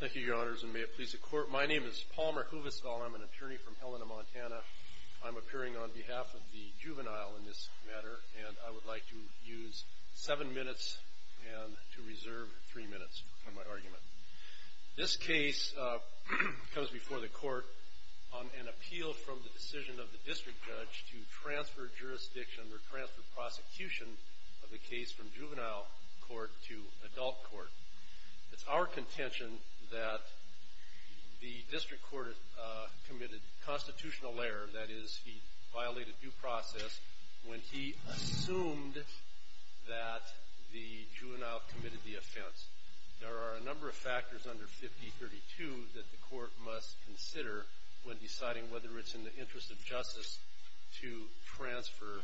Thank you, your honors, and may it please the court. My name is Palmer Huvestal. I'm an attorney from Helena, Montana. I'm appearing on behalf of the juvenile in this matter, and I would like to use seven minutes and to reserve three minutes for my argument. This case comes before the court on an appeal from the decision of the district judge to transfer jurisdiction or transfer prosecution of the case from juvenile court to adult court. It's our contention that the district court committed constitutional error, that is, he violated due process, when he assumed that the juvenile committed the offense. There are a number of factors under 5032 that the court must consider when deciding whether it's in the interest of justice to transfer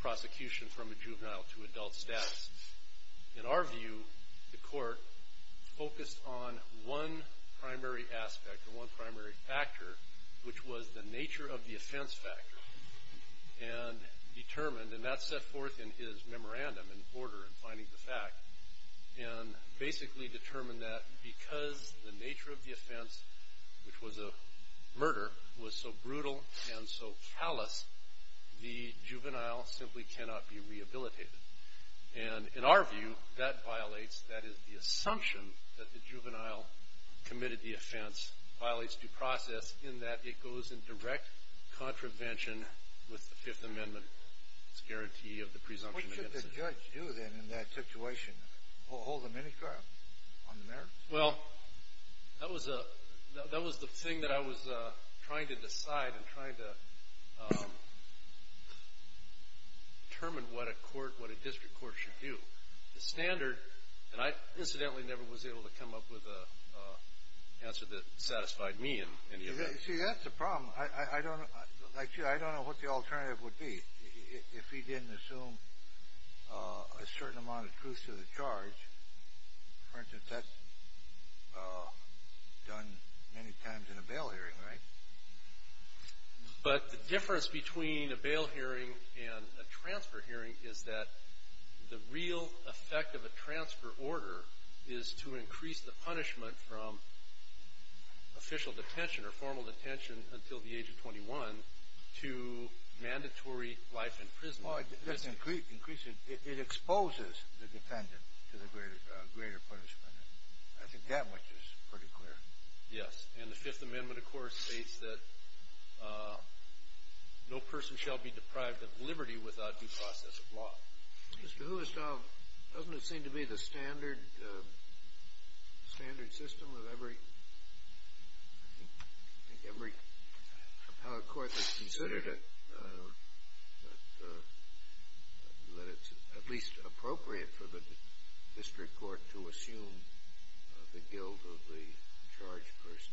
prosecution from a juvenile to adult status. In our view, the court focused on one primary aspect or one primary factor, which was the nature of the offense factor, and determined, and that's set forth in his memorandum in order in finding the fact, and basically determined that because the nature of the offense, which was a murder, was so brutal and so callous, the juvenile simply cannot be rehabilitated. And in our view, that violates, that is, the assumption that the juvenile committed the offense violates due process in that it goes in direct contravention with the Fifth Amendment. It's a guarantee of the presumption of innocence. What did the judge do then in that situation? Hold a mini trial on the merits? Well, that was the thing that I was trying to decide and trying to determine what a court, what a district court should do. The standard, and I incidentally never was able to come up with an answer that satisfied me in any of that. See, that's the problem. I don't know, like you, I don't know what the alternative would be if he didn't assume a certain amount of truth to the charge. For instance, that's done many times in a bail hearing, right? But the difference between a bail hearing and a transfer hearing is that the real effect of a transfer order is to increase the punishment from official detention or formal detention until the age of 21 to mandatory life in prison. It exposes the defendant to the greater punishment. I think that much is pretty clear. Yes, and the Fifth Amendment, of course, states that no person shall be deprived of liberty without due process of law. Mr. Huestov, doesn't it seem to be the standard system of every, I think every appellate court that's considered it, that it's at least appropriate for the district court to assume the guilt of the charged person?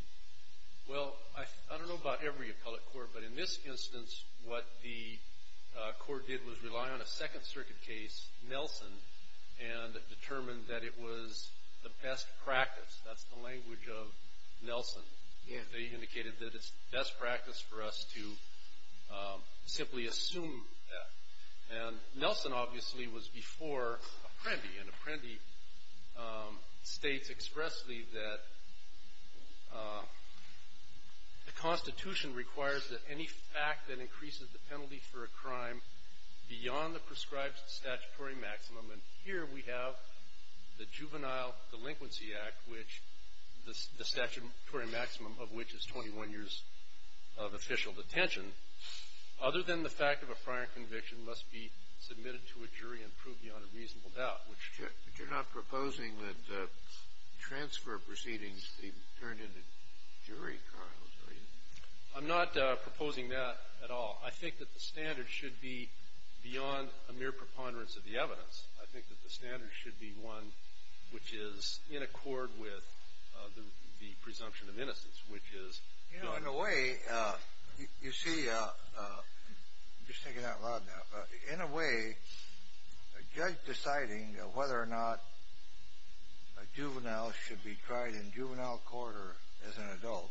Well, I don't know about every appellate court, but in this instance, what the court did was rely on a Second Circuit case, Nelson, and determined that it was the best practice. That's the language of Nelson. They indicated that it's best practice for us to simply assume that. And Nelson, obviously, was before Apprendi, and Apprendi states expressly that the Constitution requires that any fact that increases the penalty for a crime beyond the prescribed statutory maximum. And here we have the Juvenile Delinquency Act, which the statutory maximum of which is 21 years of official detention. Other than the fact of a prior conviction must be submitted to a jury and proved beyond a reasonable doubt, which – But you're not proposing that transfer proceedings be turned into jury trials, are you? I'm not proposing that at all. I think that the standard should be beyond a mere preponderance of the evidence. I think that the standard should be one which is in accord with the presumption of innocence, which is – You know, in a way, you see – I'm just taking that out loud now. In a way, a judge deciding whether or not a juvenile should be tried in juvenile court or as an adult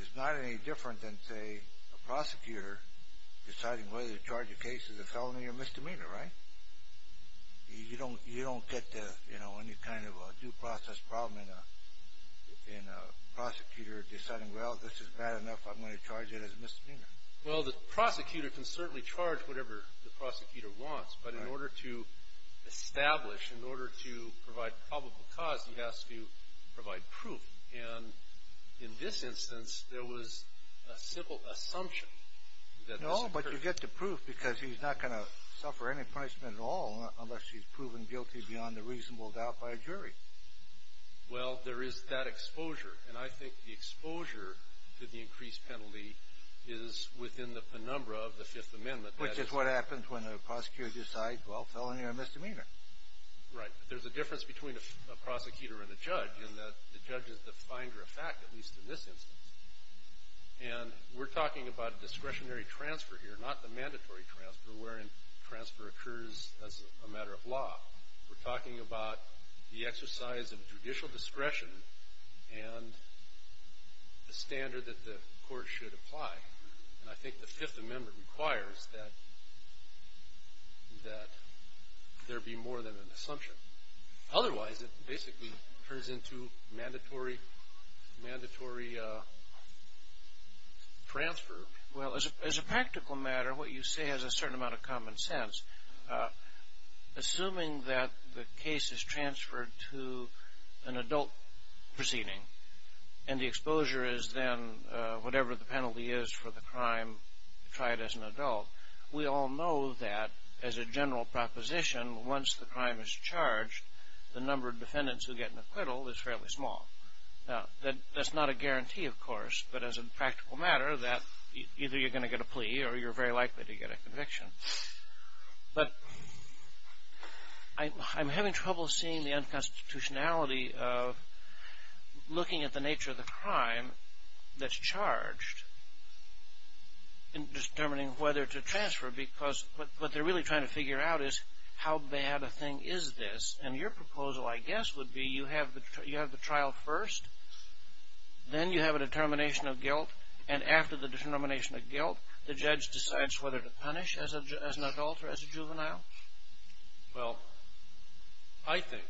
is not any different than, say, a prosecutor deciding whether to charge a case as a felony or misdemeanor, right? You don't get any kind of a due process problem in a prosecutor deciding, well, this is bad enough. I'm going to charge it as misdemeanor. Well, the prosecutor can certainly charge whatever the prosecutor wants. But in order to establish, in order to provide probable cause, he has to provide proof. And in this instance, there was a simple assumption that – No, but you get the proof because he's not going to suffer any punishment at all unless he's proven guilty beyond a reasonable doubt by a jury. Well, there is that exposure. And I think the exposure to the increased penalty is within the penumbra of the Fifth Amendment. Which is what happens when a prosecutor decides, well, felony or misdemeanor. Right. But there's a difference between a prosecutor and a judge in that the judge is the finder of fact, at least in this instance. And we're talking about discretionary transfer here, not the mandatory transfer wherein transfer occurs as a matter of law. We're talking about the exercise of judicial discretion and the standard that the court should apply. And I think the Fifth Amendment requires that there be more than an assumption. Otherwise, it basically turns into mandatory transfer. Well, as a practical matter, what you say has a certain amount of common sense. Assuming that the case is transferred to an adult proceeding and the exposure is then whatever the penalty is for the crime tried as an adult, we all know that as a general proposition, once the crime is charged, the number of defendants who get an acquittal is fairly small. Now, that's not a guarantee, of course. But as a practical matter, either you're going to get a plea or you're very likely to get a conviction. But I'm having trouble seeing the unconstitutionality of looking at the nature of the crime that's charged in determining whether to transfer because what they're really trying to figure out is how bad a thing is this. And your proposal, I guess, would be you have the trial first, then you have a determination of guilt, and after the determination of guilt, the judge decides whether to punish as an adult or as a juvenile? Well, I think,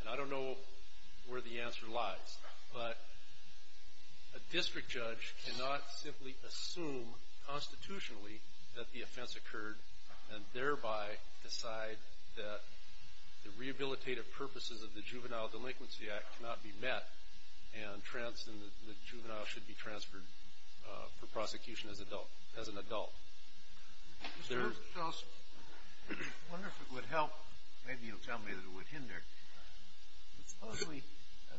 and I don't know where the answer lies, but a district judge cannot simply assume constitutionally that the offense occurred and thereby decide that the rehabilitative purposes of the Juvenile Delinquency Act cannot be met and the juvenile should be transferred for prosecution as an adult. Mr. Stolz, I wonder if it would help, maybe you'll tell me that it would hinder, but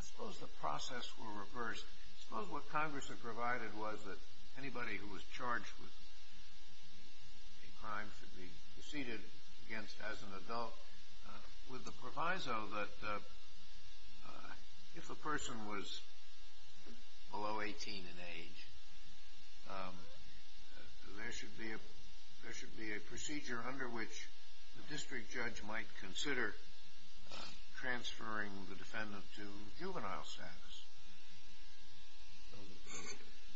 suppose the process were reversed. Suppose what Congress had provided was that anybody who was charged with a crime should be preceded against as an adult with the proviso that if a person was below 18 in age, there should be a procedure under which the district judge might consider transferring the defendant to juvenile status.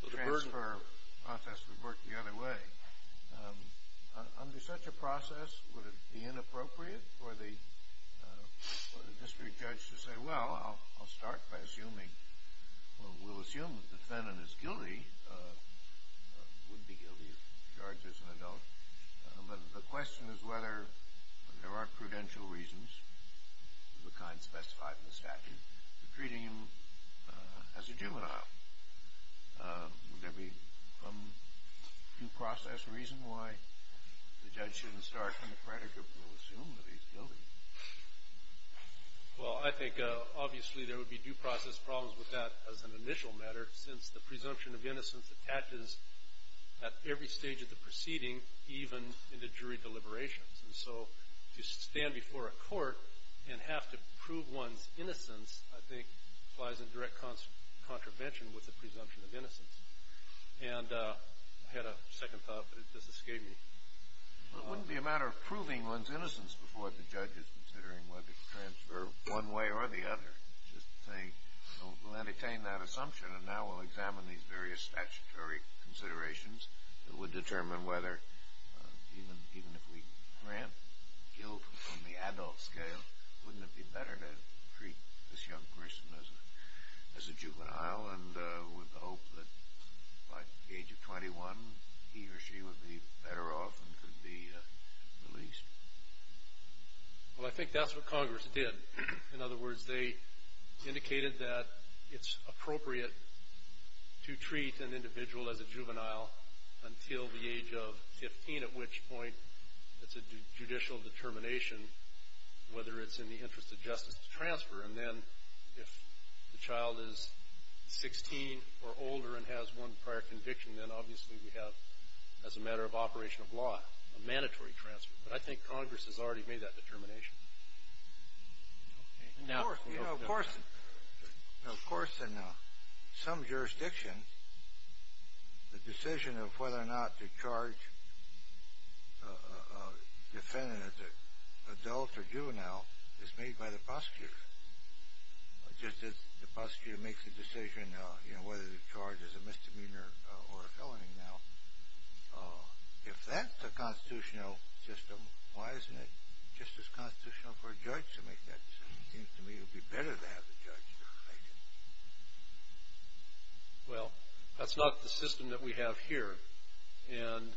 The transfer process would work the other way. Under such a process, would it be inappropriate for the district judge to say, well, I'll start by assuming, well, we'll assume that the defendant is guilty, would be guilty if charged as an adult, but the question is whether there are prudential reasons of the kind specified in the statute for treating him as a juvenile. Would there be some due process reason why the judge shouldn't start from the predicate, we'll assume that he's guilty? Well, I think obviously there would be due process problems with that as an initial matter since the presumption of innocence attaches at every stage of the proceeding, even in the jury deliberations. And so to stand before a court and have to prove one's innocence, I think, lies in direct contravention with the presumption of innocence. And I had a second thought, but this escaped me. Well, it wouldn't be a matter of proving one's innocence before the judge is considering whether to transfer one way or the other. Just think, we'll entertain that assumption, and now we'll examine these various statutory considerations that would determine whether, even if we grant guilt on the adult scale, wouldn't it be better to treat this young person as a juvenile and with the hope that by the age of 21 he or she would be better off and could be released? Well, I think that's what Congress did. In other words, they indicated that it's appropriate to treat an individual as a juvenile until the age of 15, at which point it's a judicial determination whether it's in the interest of justice to transfer. And then if the child is 16 or older and has one prior conviction, then obviously we have, as a matter of operation of law, a mandatory transfer. But I think Congress has already made that determination. Of course, in some jurisdictions, the decision of whether or not to charge a defendant as an adult or juvenile is made by the prosecutor. Just as the prosecutor makes the decision whether the charge is a misdemeanor or a felony now, if that's the constitutional system, why isn't it just as constitutional for a judge to make that decision? It seems to me it would be better to have the judge decide it. Well, that's not the system that we have here. And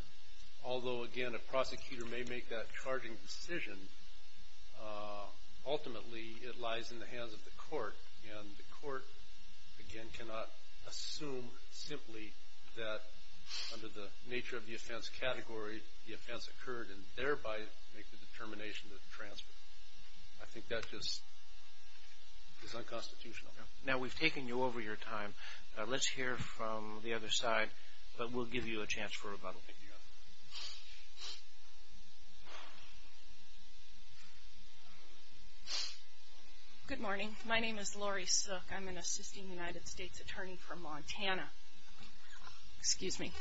although, again, a prosecutor may make that charging decision, ultimately it lies in the hands of the court. And the court, again, cannot assume simply that under the nature of the offense category the offense occurred and thereby make the determination to transfer. I think that just is unconstitutional. Now, we've taken you over your time. Let's hear from the other side, but we'll give you a chance for rebuttal. Thank you. Good morning. My name is Lori Suk. I'm an assisting United States attorney from Montana. Excuse me.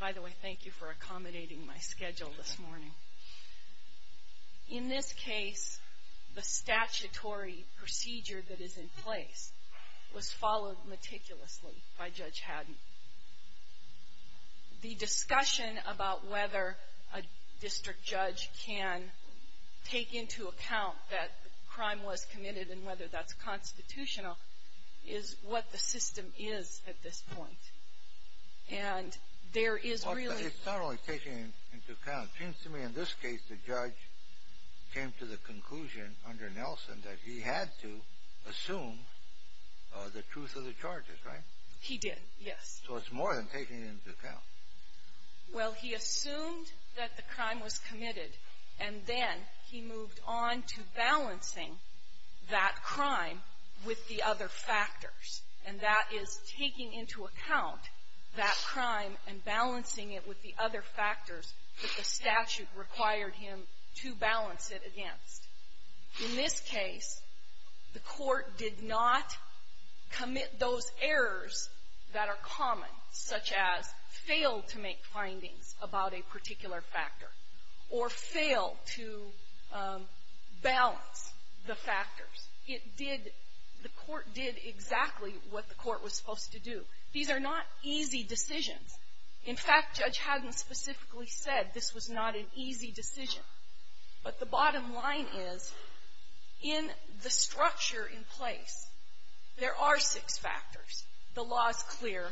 By the way, thank you for accommodating my schedule this morning. In this case, the statutory procedure that is in place was followed meticulously by Judge Haddon. The discussion about whether a district judge can take into account that crime was committed and whether that's constitutional is what the system is at this point. And there is really — It's not only taking it into account. It seems to me in this case the judge came to the conclusion under Nelson that he had to assume the truth of the charges, right? He did, yes. So it's more than taking it into account. Well, he assumed that the crime was committed, and then he moved on to balancing that crime with the other factors. And that is taking into account that crime and balancing it with the other factors that the statute required him to balance it against. In this case, the Court did not commit those errors that are common, such as failed to make findings about a particular factor or failed to balance the factors. It did — the Court did exactly what the Court was supposed to do. These are not easy decisions. In fact, Judge Haddon specifically said this was not an easy decision. But the bottom line is, in the structure in place, there are six factors. The law is clear.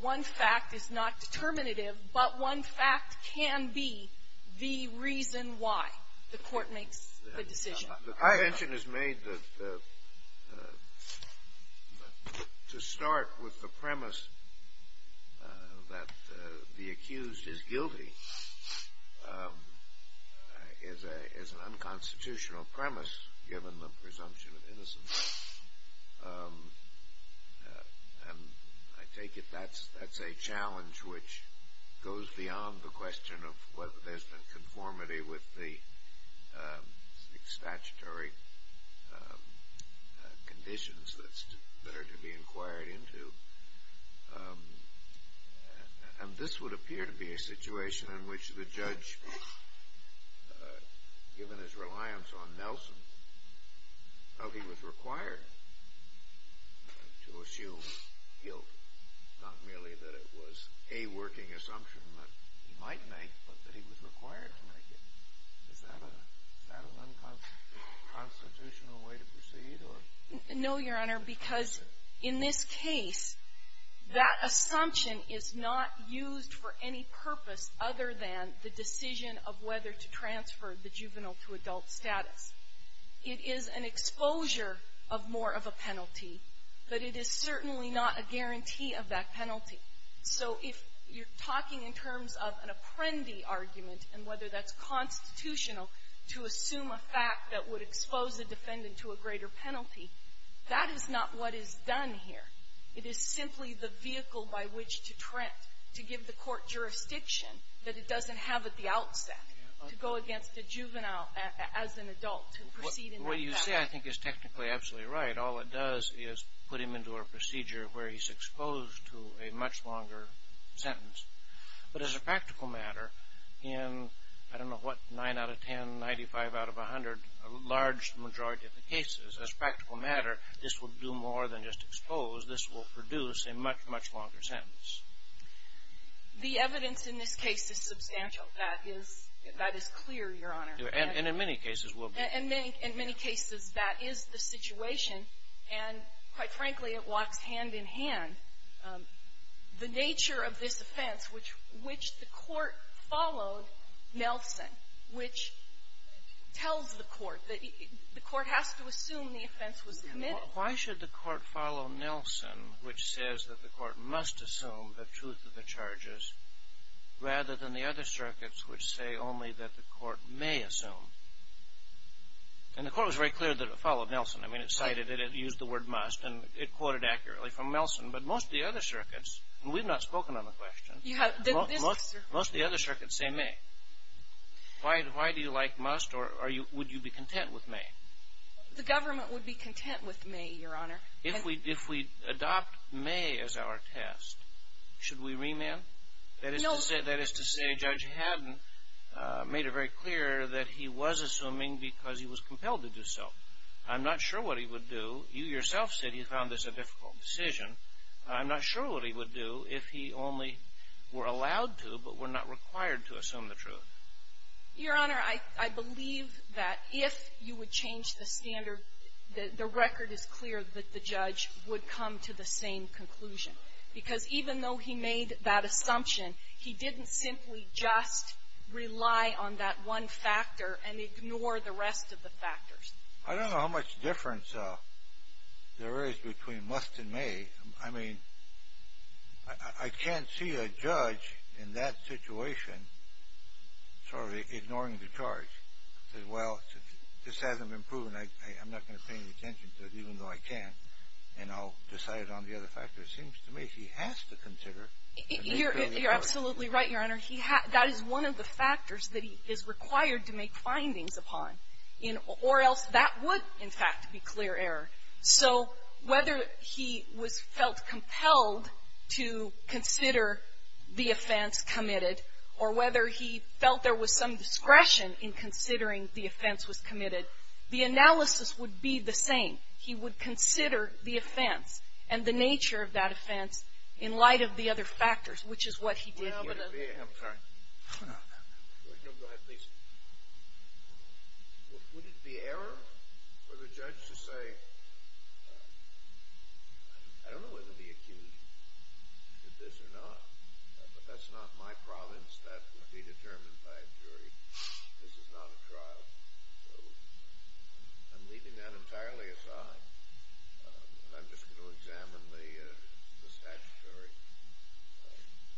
One fact is not determinative, but one fact can be the reason why the Court makes the decision. The contention is made that to start with the premise that the accused is guilty is an unconstitutional premise, given the presumption of innocence. And I take it that's a challenge which goes beyond the question of whether there's been conformity with the statutory conditions that are to be inquired into. And this would appear to be a situation in which the judge, given his reliance on Nelson, felt he was required to assume guilt, not merely that it was a working assumption that he might make, but that he was required to make it. Is that an unconstitutional way to proceed, or? No, Your Honor, because in this case, that assumption is not used for any purpose other than the decision of whether to transfer the juvenile to adult status. It is an exposure of more of a penalty, but it is certainly not a guarantee of that penalty. So if you're talking in terms of an apprendee argument and whether that's constitutional to assume a fact that would expose a defendant to a greater penalty, that is not what is done here. It is simply the vehicle by which to give the court jurisdiction that it doesn't have at the outset to go against a juvenile as an adult to proceed in that fashion. What you say, I think, is technically absolutely right. All it does is put him into a procedure where he's exposed to a much longer sentence. But as a practical matter, in I don't know what, 9 out of 10, 95 out of 100, a large majority of the cases, as a practical matter, this will do more than just expose. This will produce a much, much longer sentence. The evidence in this case is substantial. That is clear, Your Honor. And in many cases will be. In many cases, that is the situation. And quite frankly, it walks hand in hand. The nature of this offense, which the court followed Nelson, which tells the court that the court has to assume the offense was committed. Why should the court follow Nelson, which says that the court must assume the truth of the charges, rather than the other circuits which say only that the court may assume? And the court was very clear that it followed Nelson. I mean, it cited it. It used the word must. And it quoted accurately from Nelson. But most of the other circuits, and we've not spoken on the question, most of the other circuits say may. Why do you like must, or would you be content with may? The government would be content with may, Your Honor. If we adopt may as our test, should we remand? That is to say, Judge Haddon made it very clear that he was assuming because he was compelled to do so. I'm not sure what he would do. You yourself said you found this a difficult decision. I'm not sure what he would do if he only were allowed to but were not required to assume the truth. Your Honor, I believe that if you would change the standard, the record is clear that the judge would come to the same conclusion. Because even though he made that assumption, he didn't simply just rely on that one factor and ignore the rest of the factors. I don't know how much difference there is between must and may. I mean, I can't see a judge in that situation sort of ignoring the charge. He says, well, this hasn't been proven. I'm not going to pay any attention to it, even though I can. And I'll decide on the other factors. It seems to me he has to consider. You're absolutely right, Your Honor. That is one of the factors that he is required to make findings upon, or else that would, in fact, be clear error. So whether he was felt compelled to consider the offense committed, or whether he felt there was some discretion in considering the offense was committed, the analysis would be the same. He would consider the offense and the nature of that offense in light of the other factors, which is what he did here. I'm sorry. No, go ahead, please. Would it be error for the judge to say, I don't know whether the accused did this or not, but that's not my province. That would be determined by a jury. This is not a trial. I'm leaving that entirely aside. I'm just going to examine the statutory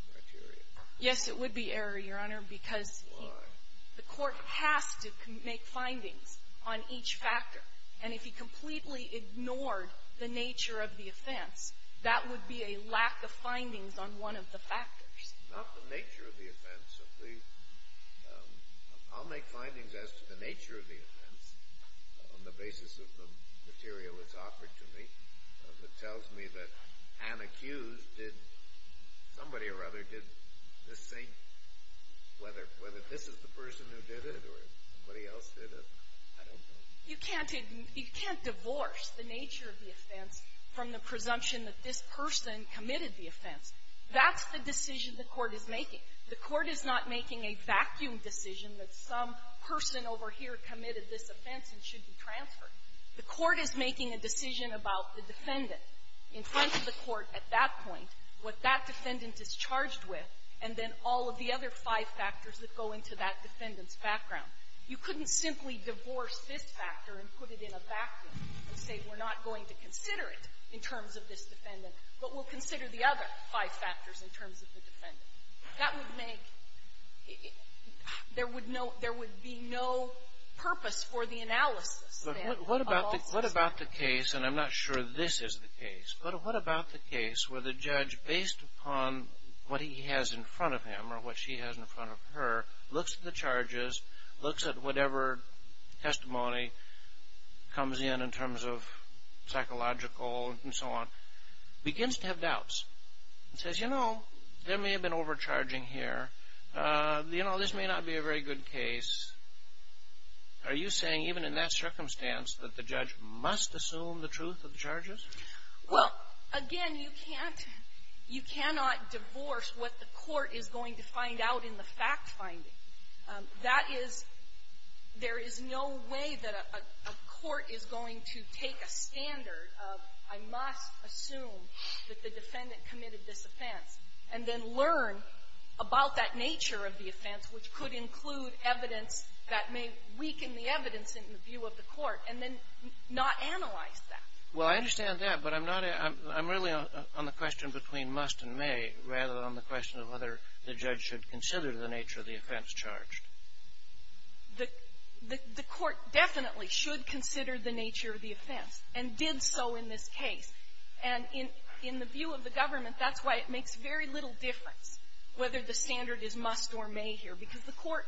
criteria. Yes, it would be error, Your Honor, because the court has to make findings on each factor. And if he completely ignored the nature of the offense, that would be a lack of findings on one of the factors. Not the nature of the offense. I'll make findings as to the nature of the offense on the basis of the material that's offered to me. If it tells me that an accused did somebody or other did this thing, whether this is the person who did it or somebody else did it, I don't know. You can't divorce the nature of the offense from the presumption that this person committed the offense. That's the decision the court is making. The court is not making a vacuum decision that some person over here committed this offense and should be transferred. The court is making a decision about the defendant in front of the court at that point, what that defendant is charged with, and then all of the other five factors that go into that defendant's background. You couldn't simply divorce this factor and put it in a vacuum and say, we're not going to consider it in terms of this defendant, but we'll consider the other five factors in terms of the defendant. That would make — there would be no purpose for the analysis, then, of all this. What about the case, and I'm not sure this is the case, but what about the case where the judge, based upon what he has in front of him or what she has in front of her, looks at the charges, looks at whatever testimony comes in in terms of psychological and so on, begins to have doubts and says, you know, there may have been overcharging here. You know, this may not be a very good case. Are you saying, even in that circumstance, that the judge must assume the truth of the charges? Well, again, you can't — you cannot divorce what the court is going to find out in the fact-finding. That is — there is no way that a court is going to take a standard of, I must assume that the defendant committed this offense, and then learn about that nature of the offense, which could include evidence that may weaken the evidence in the view of the court, and then not analyze that. Well, I understand that, but I'm not — I'm really on the question between must and may, rather than on the question of whether the judge should consider the nature of the offense charged. The court definitely should consider the nature of the offense, and did so in this case. And in the view of the government, that's why it makes very little difference whether the standard is must or may here, because the court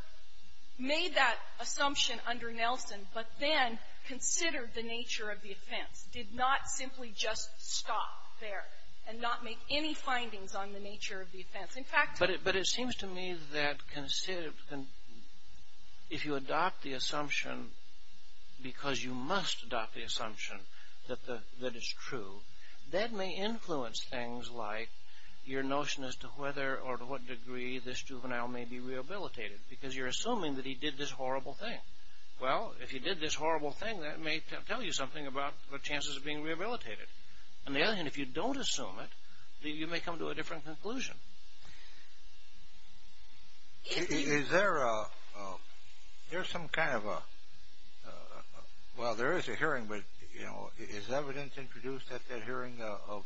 made that assumption under Nelson, but then considered the nature of the offense, did not simply just stop there and not make any findings on the nature of the offense. But it seems to me that if you adopt the assumption, because you must adopt the assumption that it's true, that may influence things like your notion as to whether or to what degree this juvenile may be rehabilitated, because you're assuming that he did this horrible thing. Well, if he did this horrible thing, that may tell you something about the chances of being rehabilitated. On the other hand, if you don't assume it, you may come to a different conclusion. Is there a — there's some kind of a — well, there is a hearing, but, you know, is evidence introduced at that hearing of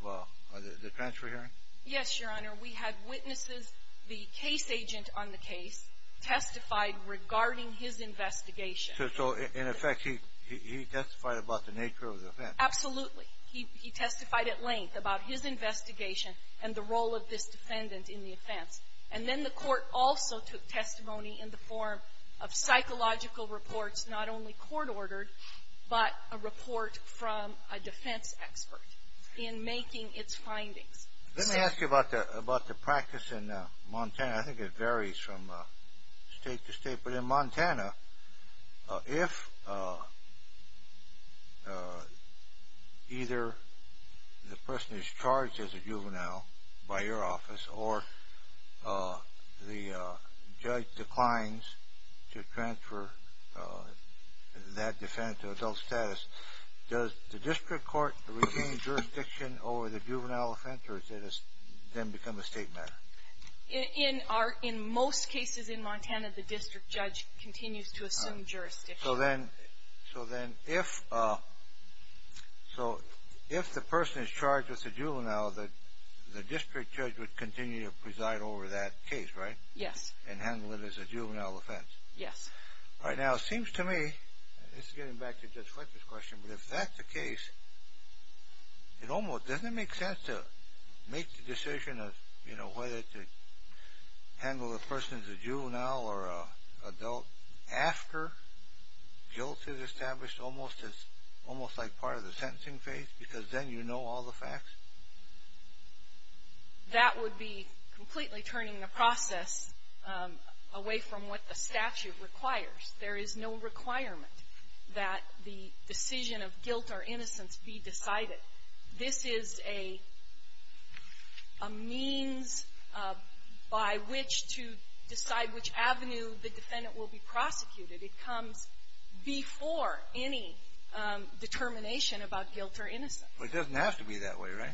the transfer hearing? Yes, Your Honor. We had witnesses, the case agent on the case testified regarding his investigation. So, in effect, he testified about the nature of the offense? Absolutely. He testified at length about his investigation and the role of this defendant in the offense. And then the Court also took testimony in the form of psychological reports not only court-ordered, but a report from a defense expert in making its findings. Let me ask you about the practice in Montana. I think it varies from State to State. But in Montana, if either the person is charged as a juvenile by your office, or the judge declines to transfer that defendant to adult status, does the District Court regain jurisdiction over the juvenile offense, or does it then become a State matter? In most cases in Montana, the district judge continues to assume jurisdiction. So then if the person is charged as a juvenile, the district judge would continue to preside over that case, right? Yes. And handle it as a juvenile offense? Yes. All right. Now, it seems to me — this is getting back to Judge Fletcher's question — but if that's the case, it almost doesn't make sense to make the decision of, you know, whether to handle the person as a juvenile or an adult after guilt is established, almost like part of the sentencing phase, because then you know all the facts? That would be completely turning the process away from what the statute requires. There is no requirement that the decision of guilt or innocence be decided. This is a means by which to decide which avenue the defendant will be prosecuted. It comes before any determination about guilt or innocence. It doesn't have to be that way, right?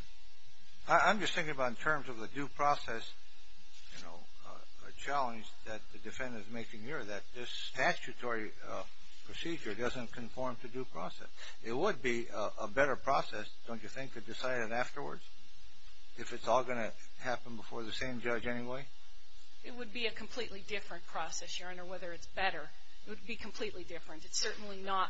I'm just thinking about in terms of the due process, you know, a challenge that the defendant is making here, that this statutory procedure doesn't conform to due process. But it would be a better process, don't you think, to decide it afterwards, if it's all going to happen before the same judge anyway? It would be a completely different process, Your Honor, whether it's better. It would be completely different. It's certainly not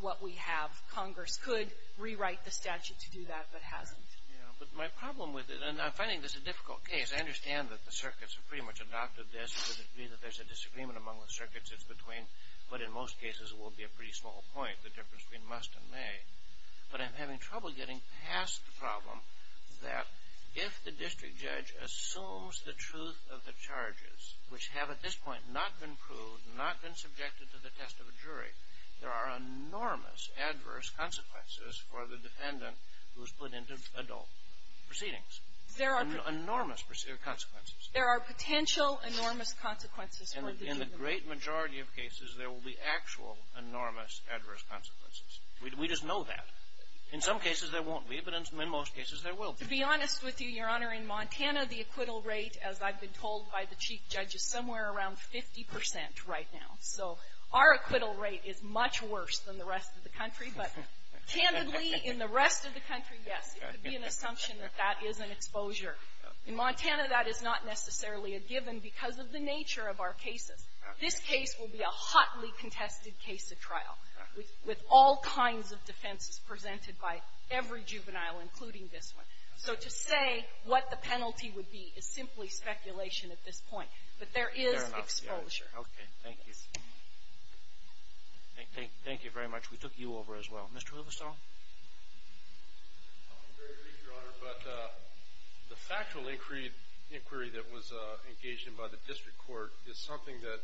what we have. Congress could rewrite the statute to do that, but hasn't. Yeah. But my problem with it — and I'm finding this a difficult case. I understand that the circuits have pretty much adopted this. It doesn't mean that there's a disagreement among the circuits. It's between — but in most cases, it will be a pretty small point, the difference between must and may. But I'm having trouble getting past the problem that if the district judge assumes the truth of the charges, which have at this point not been proved, not been subjected to the test of a jury, there are enormous adverse consequences for the defendant who is put into adult proceedings. There are — There are potential enormous consequences for the defendant. In the great majority of cases, there will be actual enormous adverse consequences. We just know that. In some cases, there won't be, but in most cases, there will be. To be honest with you, Your Honor, in Montana, the acquittal rate, as I've been told by the chief judge, is somewhere around 50 percent right now. So our acquittal rate is much worse than the rest of the country. But candidly, in the rest of the country, yes, it would be an assumption that that is an exposure. In Montana, that is not necessarily a given because of the nature of our cases. This case will be a hotly contested case at trial with all kinds of defenses presented by every juvenile, including this one. So to say what the penalty would be is simply speculation at this point. But there is exposure. Very much. Okay. Thank you. Thank you very much. We took you over as well. Mr. Rivestone. Very briefly, Your Honor, but the factual inquiry that was engaged in by the district court is something that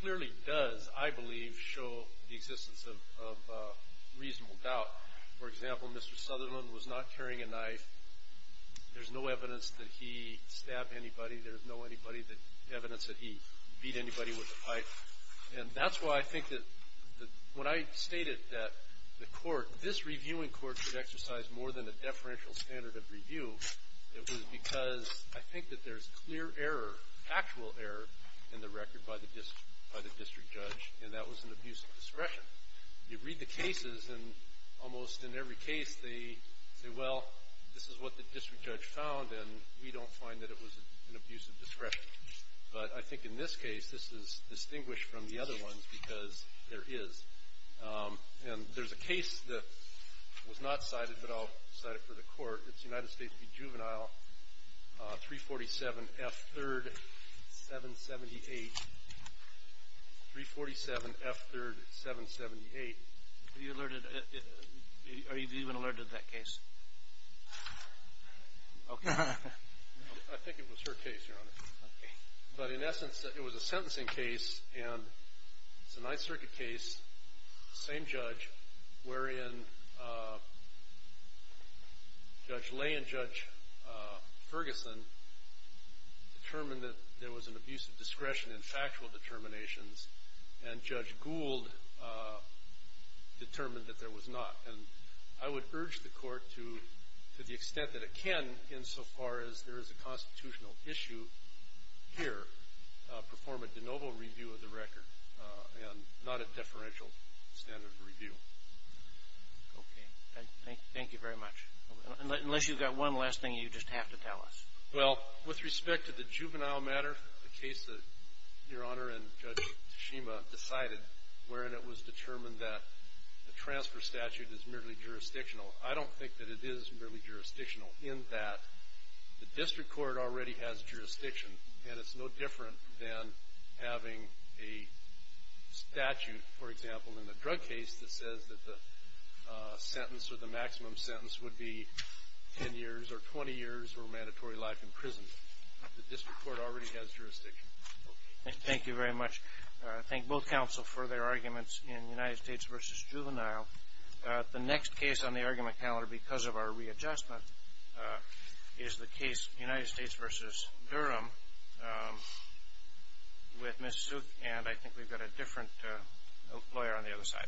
clearly does, I believe, show the existence of reasonable doubt. For example, Mr. Sutherland was not carrying a knife. There's no evidence that he stabbed anybody. There's no evidence that he beat anybody with a pipe. And that's why I think that when I stated that the court, this reviewing court should exercise more than a deferential standard of review, it was because I think that there's clear error, factual error, in the record by the district judge, and that was an abuse of discretion. You read the cases, and almost in every case they say, well, this is what the district judge found, and we don't find that it was an abuse of discretion. But I think in this case, this is distinguished from the other ones because there is. And there's a case that was not cited, but I'll cite it for the court. It's United States v. Juvenile, 347 F. 3rd, 778. 347 F. 3rd, 778. Are you alerted? Are you even alerted to that case? Okay. I think it was her case, Your Honor. But in essence, it was a sentencing case, and it's a Ninth Circuit case, same judge, wherein Judge Lay and Judge Ferguson determined that there was an abuse of discretion in factual determinations, and Judge Gould determined that there was not. And I would urge the court to, to the extent that it can, insofar as there is a constitutional issue here, perform a de novo review of the record and not a deferential standard review. Okay. Thank you very much. Unless you've got one last thing you just have to tell us. Well, with respect to the juvenile matter, the case that Your Honor and Judge Tashima decided, wherein it was determined that the transfer statute is merely jurisdictional, I don't think that it is merely jurisdictional in that the district court already has jurisdiction, and it's no different than having a statute, for example, in the drug case that says that the sentence or the maximum sentence would be 10 years or 20 years or mandatory life in prison. The district court already has jurisdiction. Okay. Thank you very much. I thank both counsel for their arguments in United States v. Juvenile. The next case on the argument calendar, because of our readjustment, is the case United States v. Durham with Ms. Sook, and I think we've got a different lawyer on the other side.